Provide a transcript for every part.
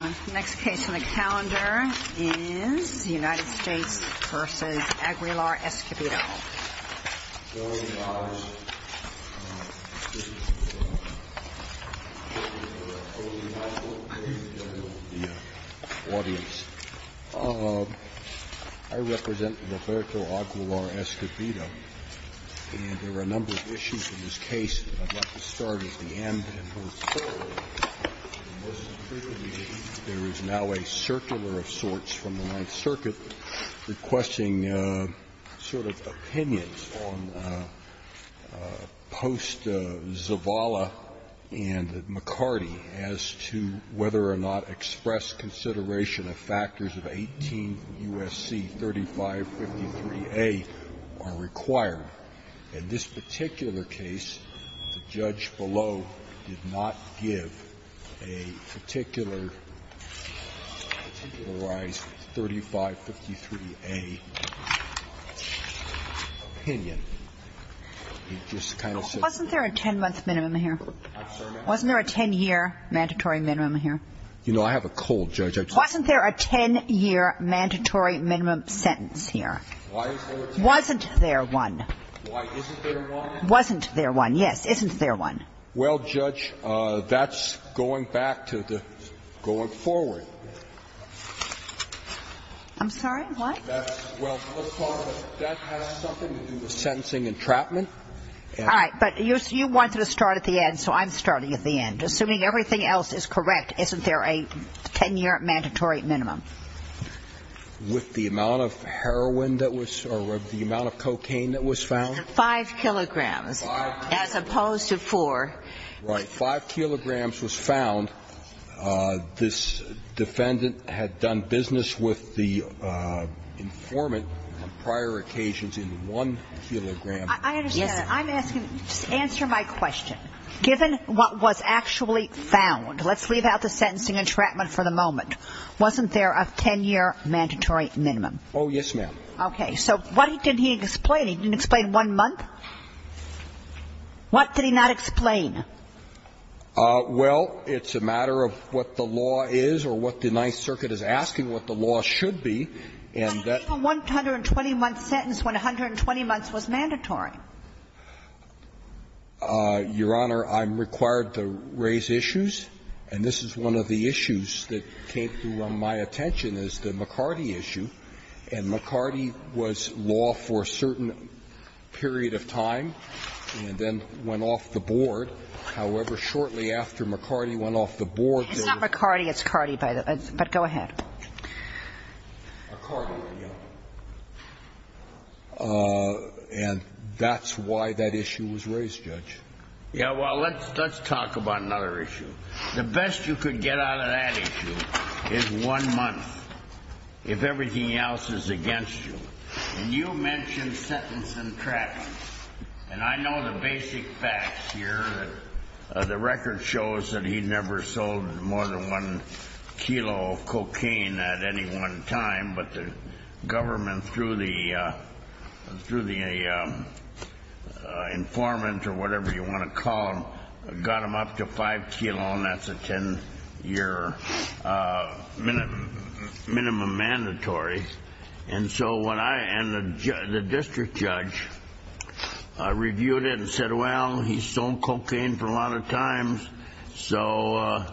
The next case on the calendar is the United States v. Aguilar-Escobedo. I represent Roberto Aguilar-Escobedo, and there are a number of issues in this case. I'd like to start at the end and move forward. Most frequently, there is now a circular of sorts from the Ninth Circuit requesting sort of opinions on Post, Zavala, and McCarty as to whether or not express consideration of factors of 18 U.S.C. 3553A are required. In this particular case, the judge below did not give a particular 3553A opinion. It just kind of says that. Wasn't there a 10-month minimum here? Wasn't there a 10-year mandatory minimum here? You know, I have a cold, Judge. Wasn't there a 10-year mandatory minimum sentence here? Wasn't there one? Wasn't there one, yes. Isn't there one? Well, Judge, that's going back to the going forward. I'm sorry, what? Well, that has something to do with sentencing entrapment. All right. But you wanted to start at the end, so I'm starting at the end. Assuming everything else is correct, isn't there a 10-year mandatory minimum? With the amount of heroin that was or the amount of cocaine that was found? Five kilograms, as opposed to four. Right. Five kilograms was found. This defendant had done business with the informant on prior occasions in one kilogram. I understand. I'm asking, just answer my question. Given what was actually found, let's leave out the sentencing entrapment for the moment. Wasn't there a 10-year mandatory minimum? Oh, yes, ma'am. Okay. So what did he explain? He didn't explain one month? What did he not explain? Well, it's a matter of what the law is or what the Ninth Circuit is asking, what the law should be. But he gave a 120-month sentence when 120 months was mandatory. Your Honor, I'm required to raise issues. And this is one of the issues that came to my attention, is the McCarty issue. And McCarty was law for a certain period of time and then went off the board. However, shortly after McCarty went off the board, there was not the court. It's not McCarty. It's Carty, by the way. But go ahead. McCarty, yeah. And that's why that issue was raised, Judge. Yeah, well, let's talk about another issue. The best you could get out of that issue is one month, if everything else is against you. And you mentioned sentencing entrapment. And I know the basic facts here. The record shows that he never sold more than one kilo of cocaine at any one time. But the government, through the informant or whatever you want to call them, got him up to five kilos. And that's a 10-year minimum mandatory. And the district judge reviewed it and said, well, he's sold cocaine for a lot of times, so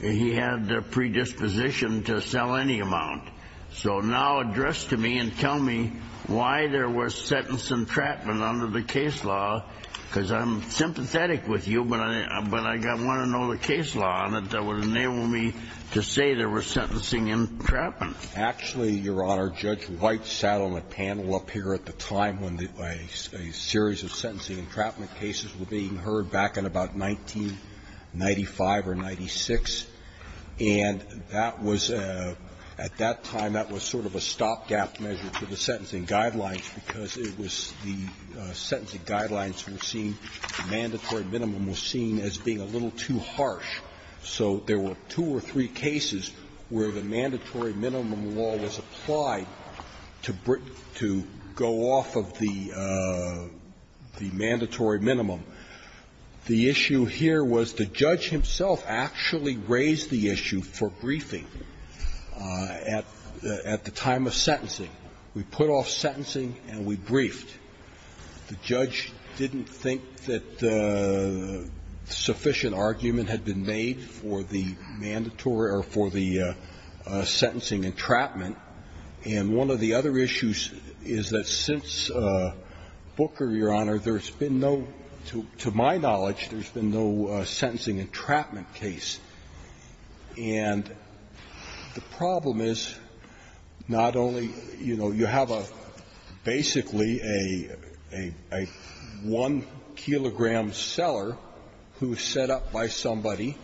he had the predisposition to sell any amount. So now address to me and tell me why there was sentencing entrapment under the case law, because I'm sympathetic with you, but I want to know the case law on it that would enable me to say there was sentencing entrapment. Actually, Your Honor, Judge White sat on a panel up here at the time when a series of sentencing entrapment cases were being heard back in about 1995 or 1996. And at that time that was sort of a stopgap measure to the sentencing guidelines because the sentencing guidelines were seen, the mandatory minimum was seen as being a little too harsh. So there were two or three cases where the mandatory minimum law was applied to go off of the mandatory minimum. The issue here was the judge himself actually raised the issue for briefing at the time of sentencing. We put off sentencing and we briefed. The judge didn't think that sufficient argument had been made for the mandatory or for the sentencing entrapment. And one of the other issues is that since Booker, Your Honor, there has been no, to my knowledge, there has been no sentencing entrapment case. And the problem is not only, you know, you have a basically a 1-kilogram seller who is set up by somebody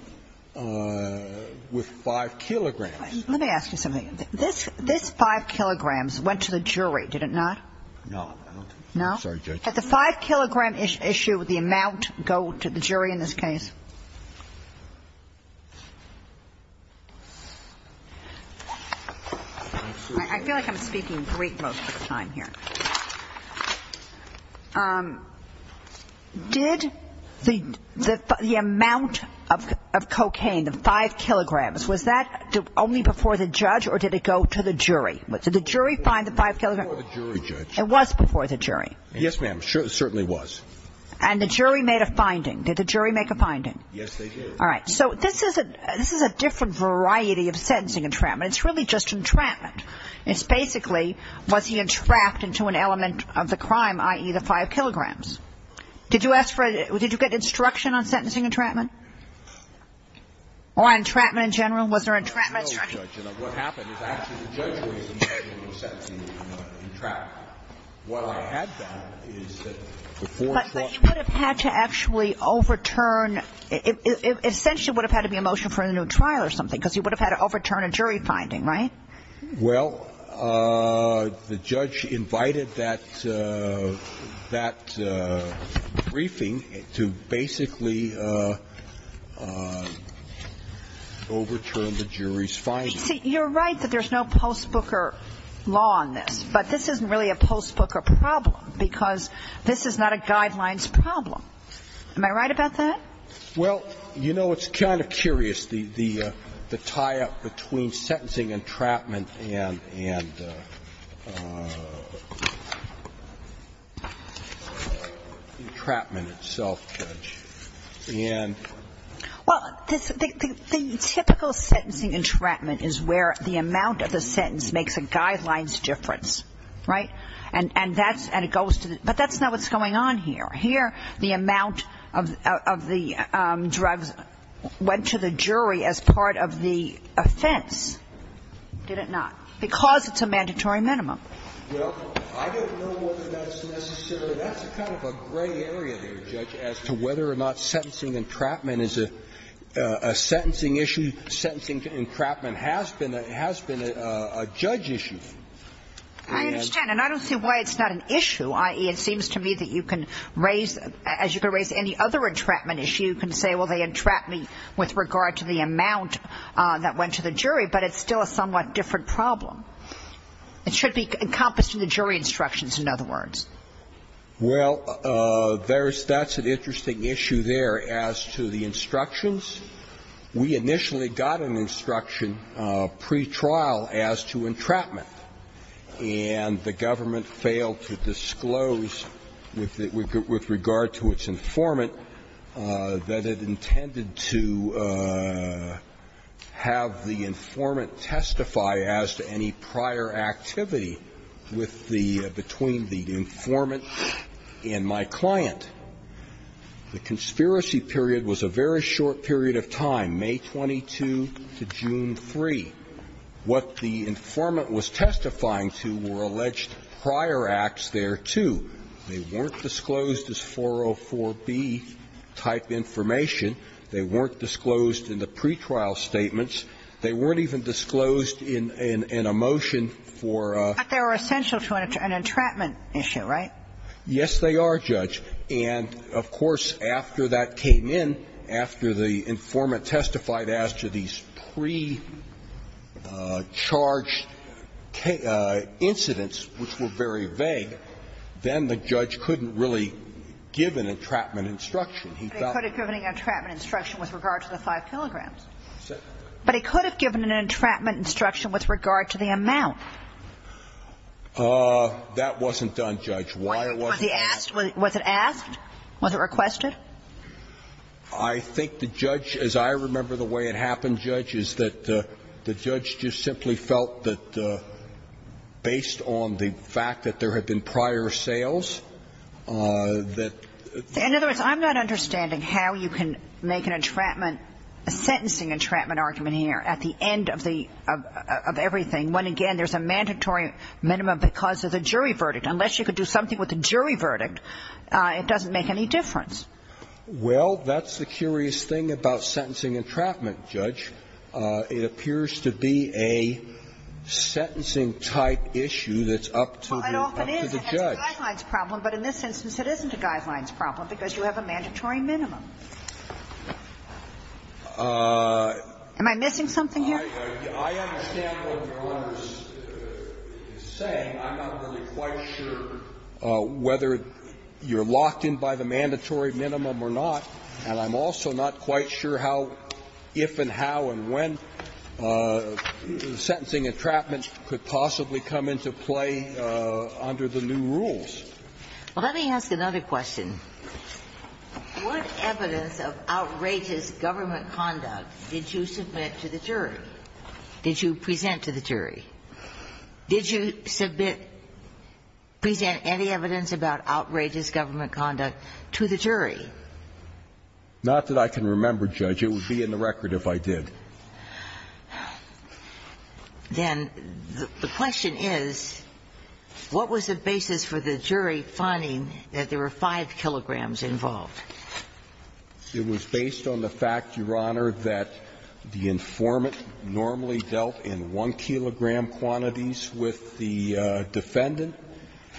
with 5 kilograms. Let me ask you something. This 5 kilograms went to the jury, did it not? No. No? Sorry, Judge. Did the 5-kilogram issue, the amount, go to the jury in this case? I feel like I'm speaking Greek most of the time here. Did the amount of cocaine, the 5 kilograms, was that only before the judge or did it go to the jury? Did the jury find the 5 kilograms? It was before the jury, Judge. It was before the jury. Yes, ma'am. It certainly was. And the jury made a finding. Did the jury make a finding? Yes, they did. All right. So this is a different variety of sentencing entrapment. It's really just entrapment. It's basically was he entrapped into an element of the crime, i.e., the 5 kilograms? Did you ask for, did you get instruction on sentencing entrapment? Or entrapment in general? Was there entrapment instruction? No, Judge. What happened is actually the judge was entrapped. But you would have had to actually overturn, it essentially would have had to be a motion for a new trial or something because you would have had to overturn a jury finding, right? Well, the judge invited that briefing to basically overturn the jury's finding. See, you're right that there's no post-Booker law on this. But this isn't really a post-Booker problem because this is not a guidelines problem. Am I right about that? Well, you know, it's kind of curious, the tie-up between sentencing entrapment and entrapment itself, Judge. Well, the typical sentencing entrapment is where the amount of the sentence makes a guidelines difference, right? And that's, and it goes to the, but that's not what's going on here. Here, the amount of the drugs went to the jury as part of the offense, did it not? Because it's a mandatory minimum. Well, I don't know whether that's necessary. So that's kind of a gray area there, Judge, as to whether or not sentencing entrapment is a sentencing issue. Sentencing entrapment has been a judge issue. I understand. And I don't see why it's not an issue, i.e., it seems to me that you can raise, as you could raise any other entrapment issue, you can say, well, they entrap me with regard to the amount that went to the jury, but it's still a somewhat different problem. It should be encompassed in the jury instructions, in other words. Well, there's, that's an interesting issue there as to the instructions. We initially got an instruction pretrial as to entrapment, and the government failed to disclose with regard to its informant that it intended to have the informant testify as to any prior activity with the, between the informant and my client. The conspiracy period was a very short period of time, May 22 to June 3. What the informant was testifying to were alleged prior acts thereto. They weren't disclosed as 404B-type information. They weren't disclosed in the pretrial statements. They weren't even disclosed in a motion for a --- But they were essential to an entrapment issue, right? Yes, they are, Judge. And of course, after that came in, after the informant testified as to these pre-charged incidents, which were very vague, then the judge couldn't really give an entrapment instruction. He thought- But he could have given an entrapment instruction with regard to the 5 kilograms. But he could have given an entrapment instruction with regard to the amount. That wasn't done, Judge. Why wasn't that done? Was he asked? Was it asked? Was it requested? I think the judge, as I remember the way it happened, Judge, is that the judge just simply felt that based on the fact that there had been prior sales, that- In other words, I'm not understanding how you can make an entrapment, a sentencing entrapment argument here at the end of the, of everything when, again, there's a mandatory minimum because of the jury verdict. Unless you could do something with the jury verdict, it doesn't make any difference. Well, that's the curious thing about sentencing entrapment, Judge. It appears to be a sentencing-type issue that's up to the judge. It often is, and that's a guidelines problem, but in this instance it isn't a guidelines problem because you have a mandatory minimum. Am I missing something here? I understand what Your Honor is saying. I'm not really quite sure whether you're locked in by the mandatory minimum or not. And I'm also not quite sure how, if and how and when sentencing entrapment could possibly come into play under the new rules. Well, let me ask another question. What evidence of outrageous government conduct did you submit to the jury? Did you present to the jury? Did you submit, present any evidence about outrageous government conduct to the jury? Not that I can remember, Judge. It would be in the record if I did. Then the question is, what was the basis for the jury finding that there were 5 kilograms involved? It was based on the fact, Your Honor, that the informant normally dealt in 1-kilogram quantities with the defendant.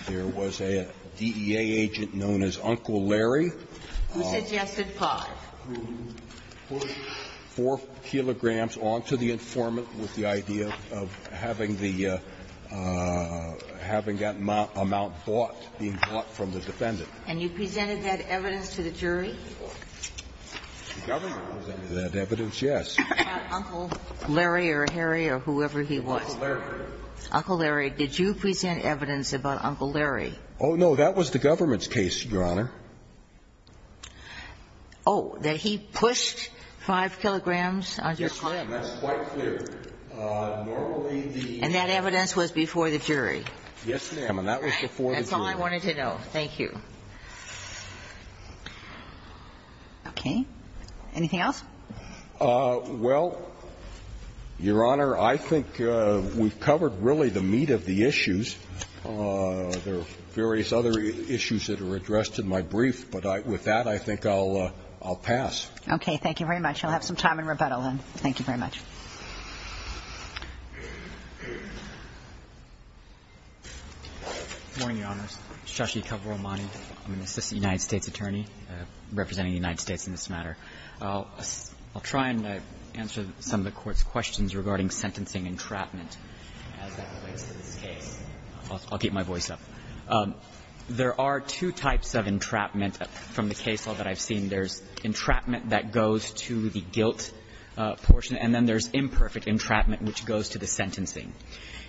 There was a DEA agent known as Uncle Larry. Who suggested 5? Who put 4 kilograms onto the informant with the idea of having the, having that amount bought, being bought from the defendant. And you presented that evidence to the jury? The government presented that evidence, yes. Uncle Larry or Harry or whoever he was. Uncle Larry. Uncle Larry. Did you present evidence about Uncle Larry? Oh, no. That was the government's case, Your Honor. Oh, that he pushed 5 kilograms onto his client? Yes, ma'am. That's quite clear. Normally the ---- And that evidence was before the jury? Yes, ma'am. And that was before the jury. That's all I wanted to know. Thank you. Okay. Anything else? Well, Your Honor, I think we've covered really the meat of the issues. There are various other issues that are addressed in my brief, but with that I think I'll pass. Okay. Thank you very much. I'll have some time in rebuttal then. Thank you very much. Good morning, Your Honors. Shashi Kavuramani. I'm an assistant United States attorney representing the United States in this matter. I'll try and answer some of the Court's questions regarding sentencing entrapment as that relates to this case. I'll keep my voice up. There are two types of entrapment from the case law that I've seen. There's entrapment that goes to the guilt portion, and then there's imperfect entrapment which goes to the sentencing.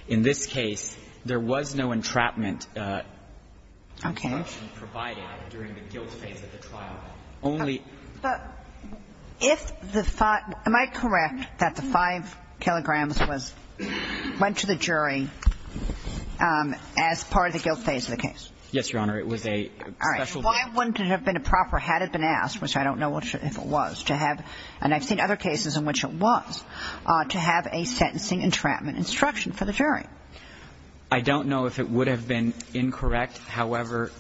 In this case, there was no entrapment information provided during the guilt phase of the trial. Okay. But if the five – am I correct that the five kilograms was – went to the jury as part of the guilt phase of the case? Yes, Your Honor. It was a special – All right. Why wouldn't it have been a proper, had it been asked, which I don't know if it was, to have – and I've seen other cases in which it was – to have a sentencing entrapment instruction for the jury? I don't know if it would have been incorrect. However,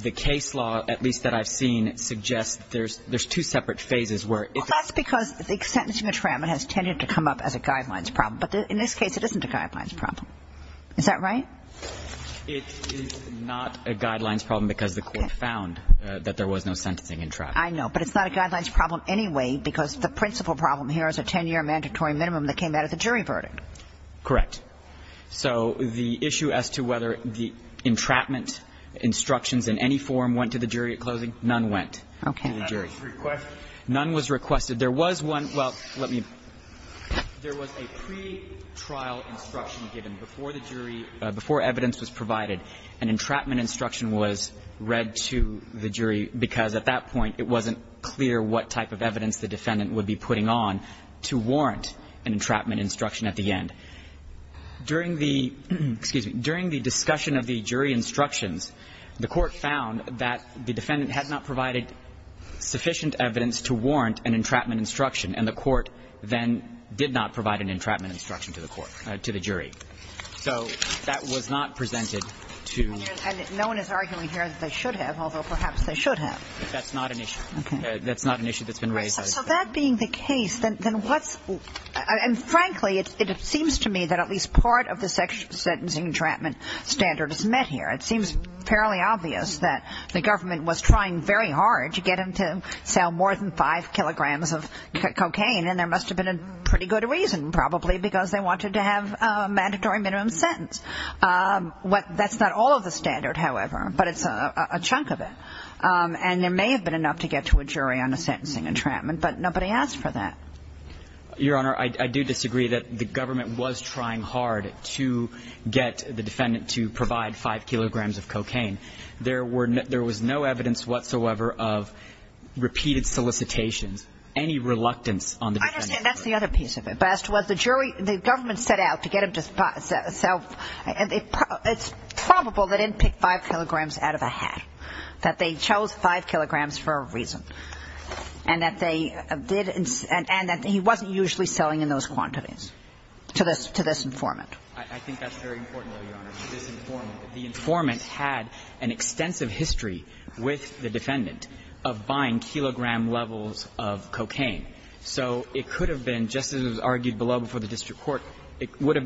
the case law, at least that I've seen, suggests there's two separate phases where – Well, that's because the sentencing entrapment has tended to come up as a guidelines problem. But in this case, it isn't a guidelines problem. Is that right? It is not a guidelines problem because the court found that there was no sentencing entrapment. I know. But it's not a guidelines problem anyway because the principal problem here is a 10-year mandatory minimum that came out of the jury verdict. Correct. So the issue as to whether the entrapment instructions in any form went to the jury at closing, none went to the jury. Okay. None was requested. None was requested. There was one – well, let me – there was a pretrial instruction given before the jury, before evidence was provided. An entrapment instruction was read to the jury because at that point it wasn't clear what type of evidence the defendant would be putting on to warrant an entrapment instruction at the end. During the – excuse me – during the discussion of the jury instructions, the court found that the defendant had not provided sufficient evidence to warrant an entrapment instruction, and the court then did not provide an entrapment instruction to the court – to the jury. So that was not presented to – And no one is arguing here that they should have, although perhaps they should have. That's not an issue. Okay. That's not an issue that's been raised. So that being the case, then what's – and frankly, it seems to me that at least part of the sentencing entrapment standard is met here. It seems fairly obvious that the government was trying very hard to get them to sell more than five kilograms of cocaine, and there must have been a pretty good reason, probably, because they wanted to have a mandatory minimum sentence. That's not all of the standard, however, but it's a chunk of it. And there may have been enough to get to a jury on a sentencing entrapment, but nobody asked for that. Your Honor, I do disagree that the government was trying hard to get the defendant to provide five kilograms of cocaine. There were – there was no evidence whatsoever of repeated solicitations, any reluctance on the defendant's part. I understand. That's the other piece of it. But as to what the jury – the government set out to get them to sell – it's probable they didn't pick five kilograms out of a hat, that they chose five kilograms for a reason, and that they did – and that he wasn't usually selling in those quantities to this – to this informant. I think that's very important, Your Honor, to this informant. The informant had an extensive history with the defendant of buying kilogram levels of cocaine. So it could have been, just as was argued below before the district court, it would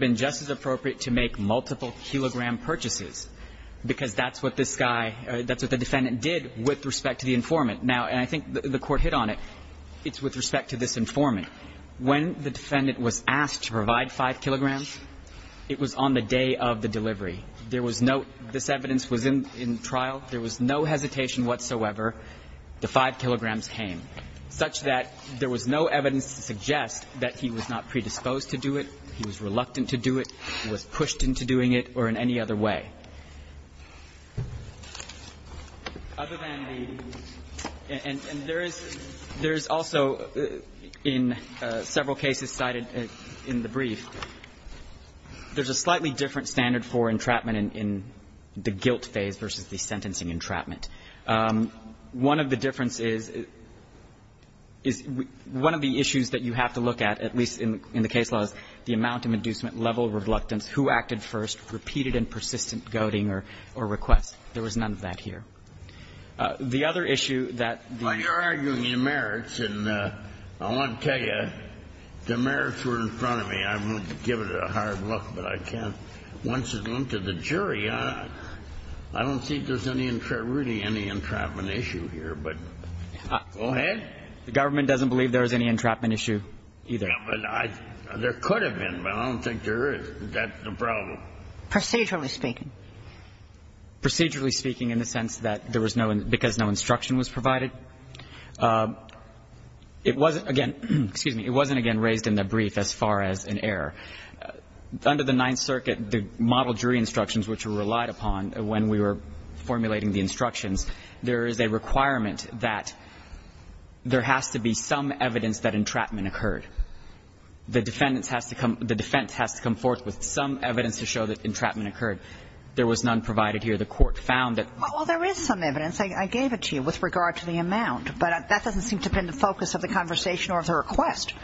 because that's what this guy – that's what the defendant did with respect to the informant. Now, and I think the court hit on it. It's with respect to this informant. When the defendant was asked to provide five kilograms, it was on the day of the delivery. There was no – this evidence was in trial. There was no hesitation whatsoever. The five kilograms came, such that there was no evidence to suggest that he was not predisposed to do it, he was reluctant to do it, he was pushed into doing it or in any other way. Other than the – and there is – there is also in several cases cited in the brief, there's a slightly different standard for entrapment in the guilt phase versus the sentencing entrapment. One of the differences is – is one of the issues that you have to look at, at least in the case law, is the amount of inducement, level of reluctance, who acted first, repeated and persistent goading or request. There was none of that here. The other issue that the – Well, you're arguing the merits, and I want to tell you, the merits were in front of me. I won't give it a hard look, but I can't. Once it went to the jury, I don't think there's any – really any entrapment issue here, but go ahead. The government doesn't believe there was any entrapment issue either. Yeah, but I – there could have been, but I don't think there is. That's the problem. Procedurally speaking. Procedurally speaking in the sense that there was no – because no instruction was provided. It wasn't – again, excuse me. It wasn't, again, raised in the brief as far as an error. Under the Ninth Circuit, the model jury instructions which were relied upon when we were formulating the instructions, there is a requirement that there has to be some evidence that entrapment occurred. The defendants has to come – the defense has to come forth with some evidence to show that entrapment occurred. There was none provided here. The Court found that – Well, there is some evidence. I gave it to you with regard to the amount, but that doesn't seem to have been the focus of the conversation or of the request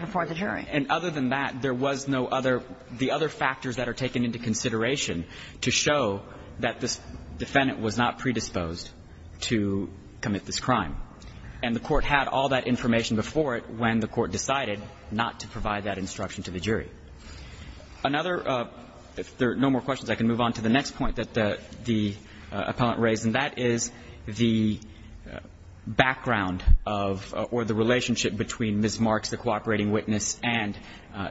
before the jury. No. And other than that, there was no other – the other factors that are taken into consideration to show that this defendant was not predisposed to commit this crime. And the Court had all that information before it when the Court decided not to provide that instruction to the jury. Another – if there are no more questions, I can move on to the next point that the appellant raised, and that is the background of – or the relationship between Ms. Marks, the cooperating witness, and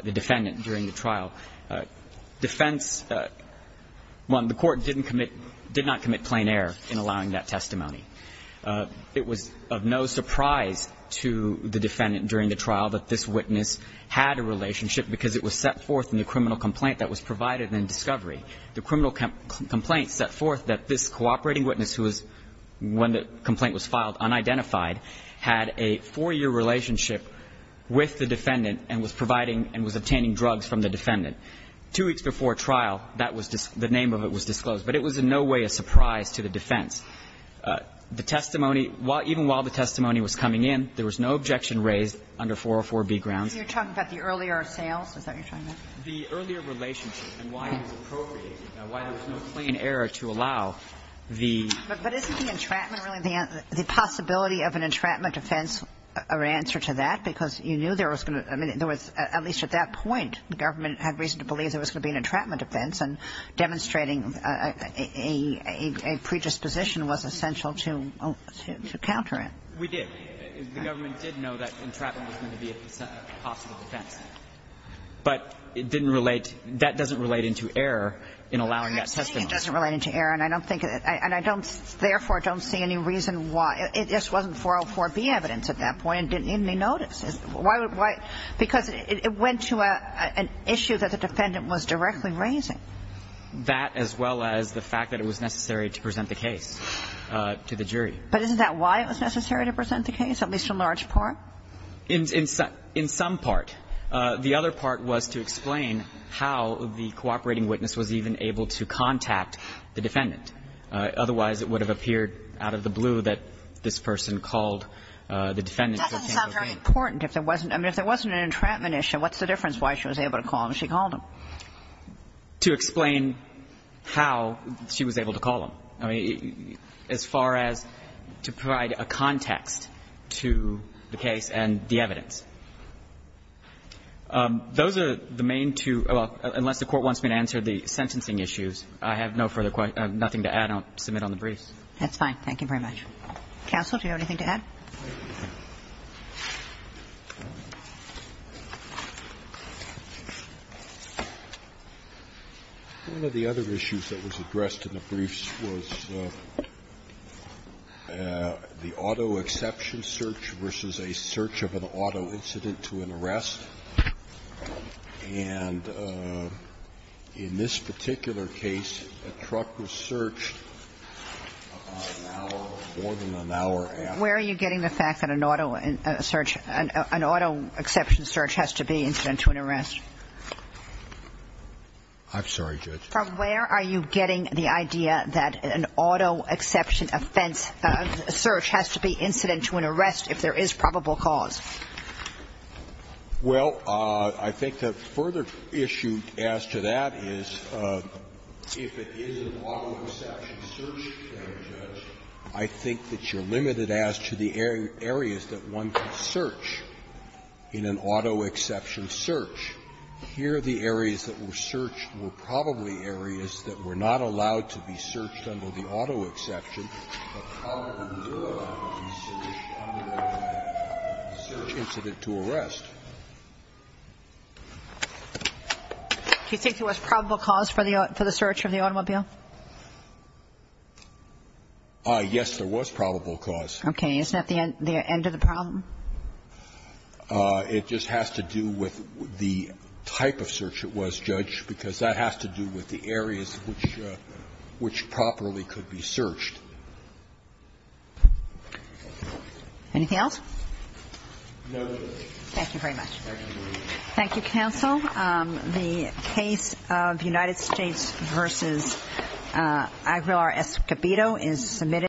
the defendant during the trial. Defense, one, the Court didn't commit – did not commit plain error in allowing that testimony. It was of no surprise to the defendant during the trial that this witness had a relationship because it was set forth in the criminal complaint that was provided in discovery. The criminal complaint set forth that this cooperating witness who was – when the complaint was filed, unidentified, had a four-year relationship with the defendant and was providing and was obtaining drugs from the defendant. Two weeks before trial, that was – the name of it was disclosed. But it was in no way a surprise to the defense. The testimony – even while the testimony was coming in, there was no objection raised under 404-B grounds. You're talking about the earlier sales? Is that what you're talking about? The earlier relationship and why it was appropriated, why there was no plain error to allow the – But isn't the entrapment really the – the possibility of an entrapment defense an answer to that? Because you knew there was going to – I mean, there was – at least at that point, the government had reason to believe there was going to be an entrapment defense and demonstrating a predisposition was essential to counter it. We did. The government did know that entrapment was going to be a possible defense. But it didn't relate – that doesn't relate into error in allowing that testimony. I'm saying it doesn't relate into error, and I don't think – and I don't – therefore, I don't see any reason why – it just wasn't 404-B evidence at that point. It didn't need any notice. Why – because it went to an issue that the defendant was directly raising. That, as well as the fact that it was necessary to present the case to the jury. But isn't that why it was necessary to present the case, at least in large part? In some part. The other part was to explain how the cooperating witness was even able to contact the defendant. Otherwise, it would have appeared out of the blue that this person called the defendant who came to the case. That doesn't sound very important. If there wasn't – I mean, if there wasn't an entrapment issue, what's the difference why she was able to call him if she called him? To explain how she was able to call him. I mean, as far as to provide a context to the case and the evidence. Those are the main two – well, unless the Court wants me to answer the sentencing issues, I have no further – nothing to add. I'll submit on the briefs. That's fine. Counsel, do you have anything to add? Thank you. One of the other issues that was addressed in the briefs was the auto exception search versus a search of an auto incident to an arrest. And in this particular case, a truck was searched about an hour or more than an hour after. Where are you getting the fact that an auto search – an auto exception search has to be incident to an arrest? I'm sorry, Judge. Where are you getting the idea that an auto exception offense search has to be incident to an arrest if there is probable cause? Well, I think the further issue as to that is if it is an auto exception search, I think that you're limited as to the areas that one can search in an auto exception search. Here, the areas that were searched were probably areas that were not allowed to be searched under the auto exception, but probably would not be searched under a search incident to arrest. Do you think there was probable cause for the search of the automobile? Yes, there was probable cause. Okay. Isn't that the end of the problem? It just has to do with the type of search it was, Judge, because that has to do with the areas which properly could be searched. Anything else? No. Thank you very much. Thank you, counsel. The case of United States v. Aguilar-Escobedo is submitted.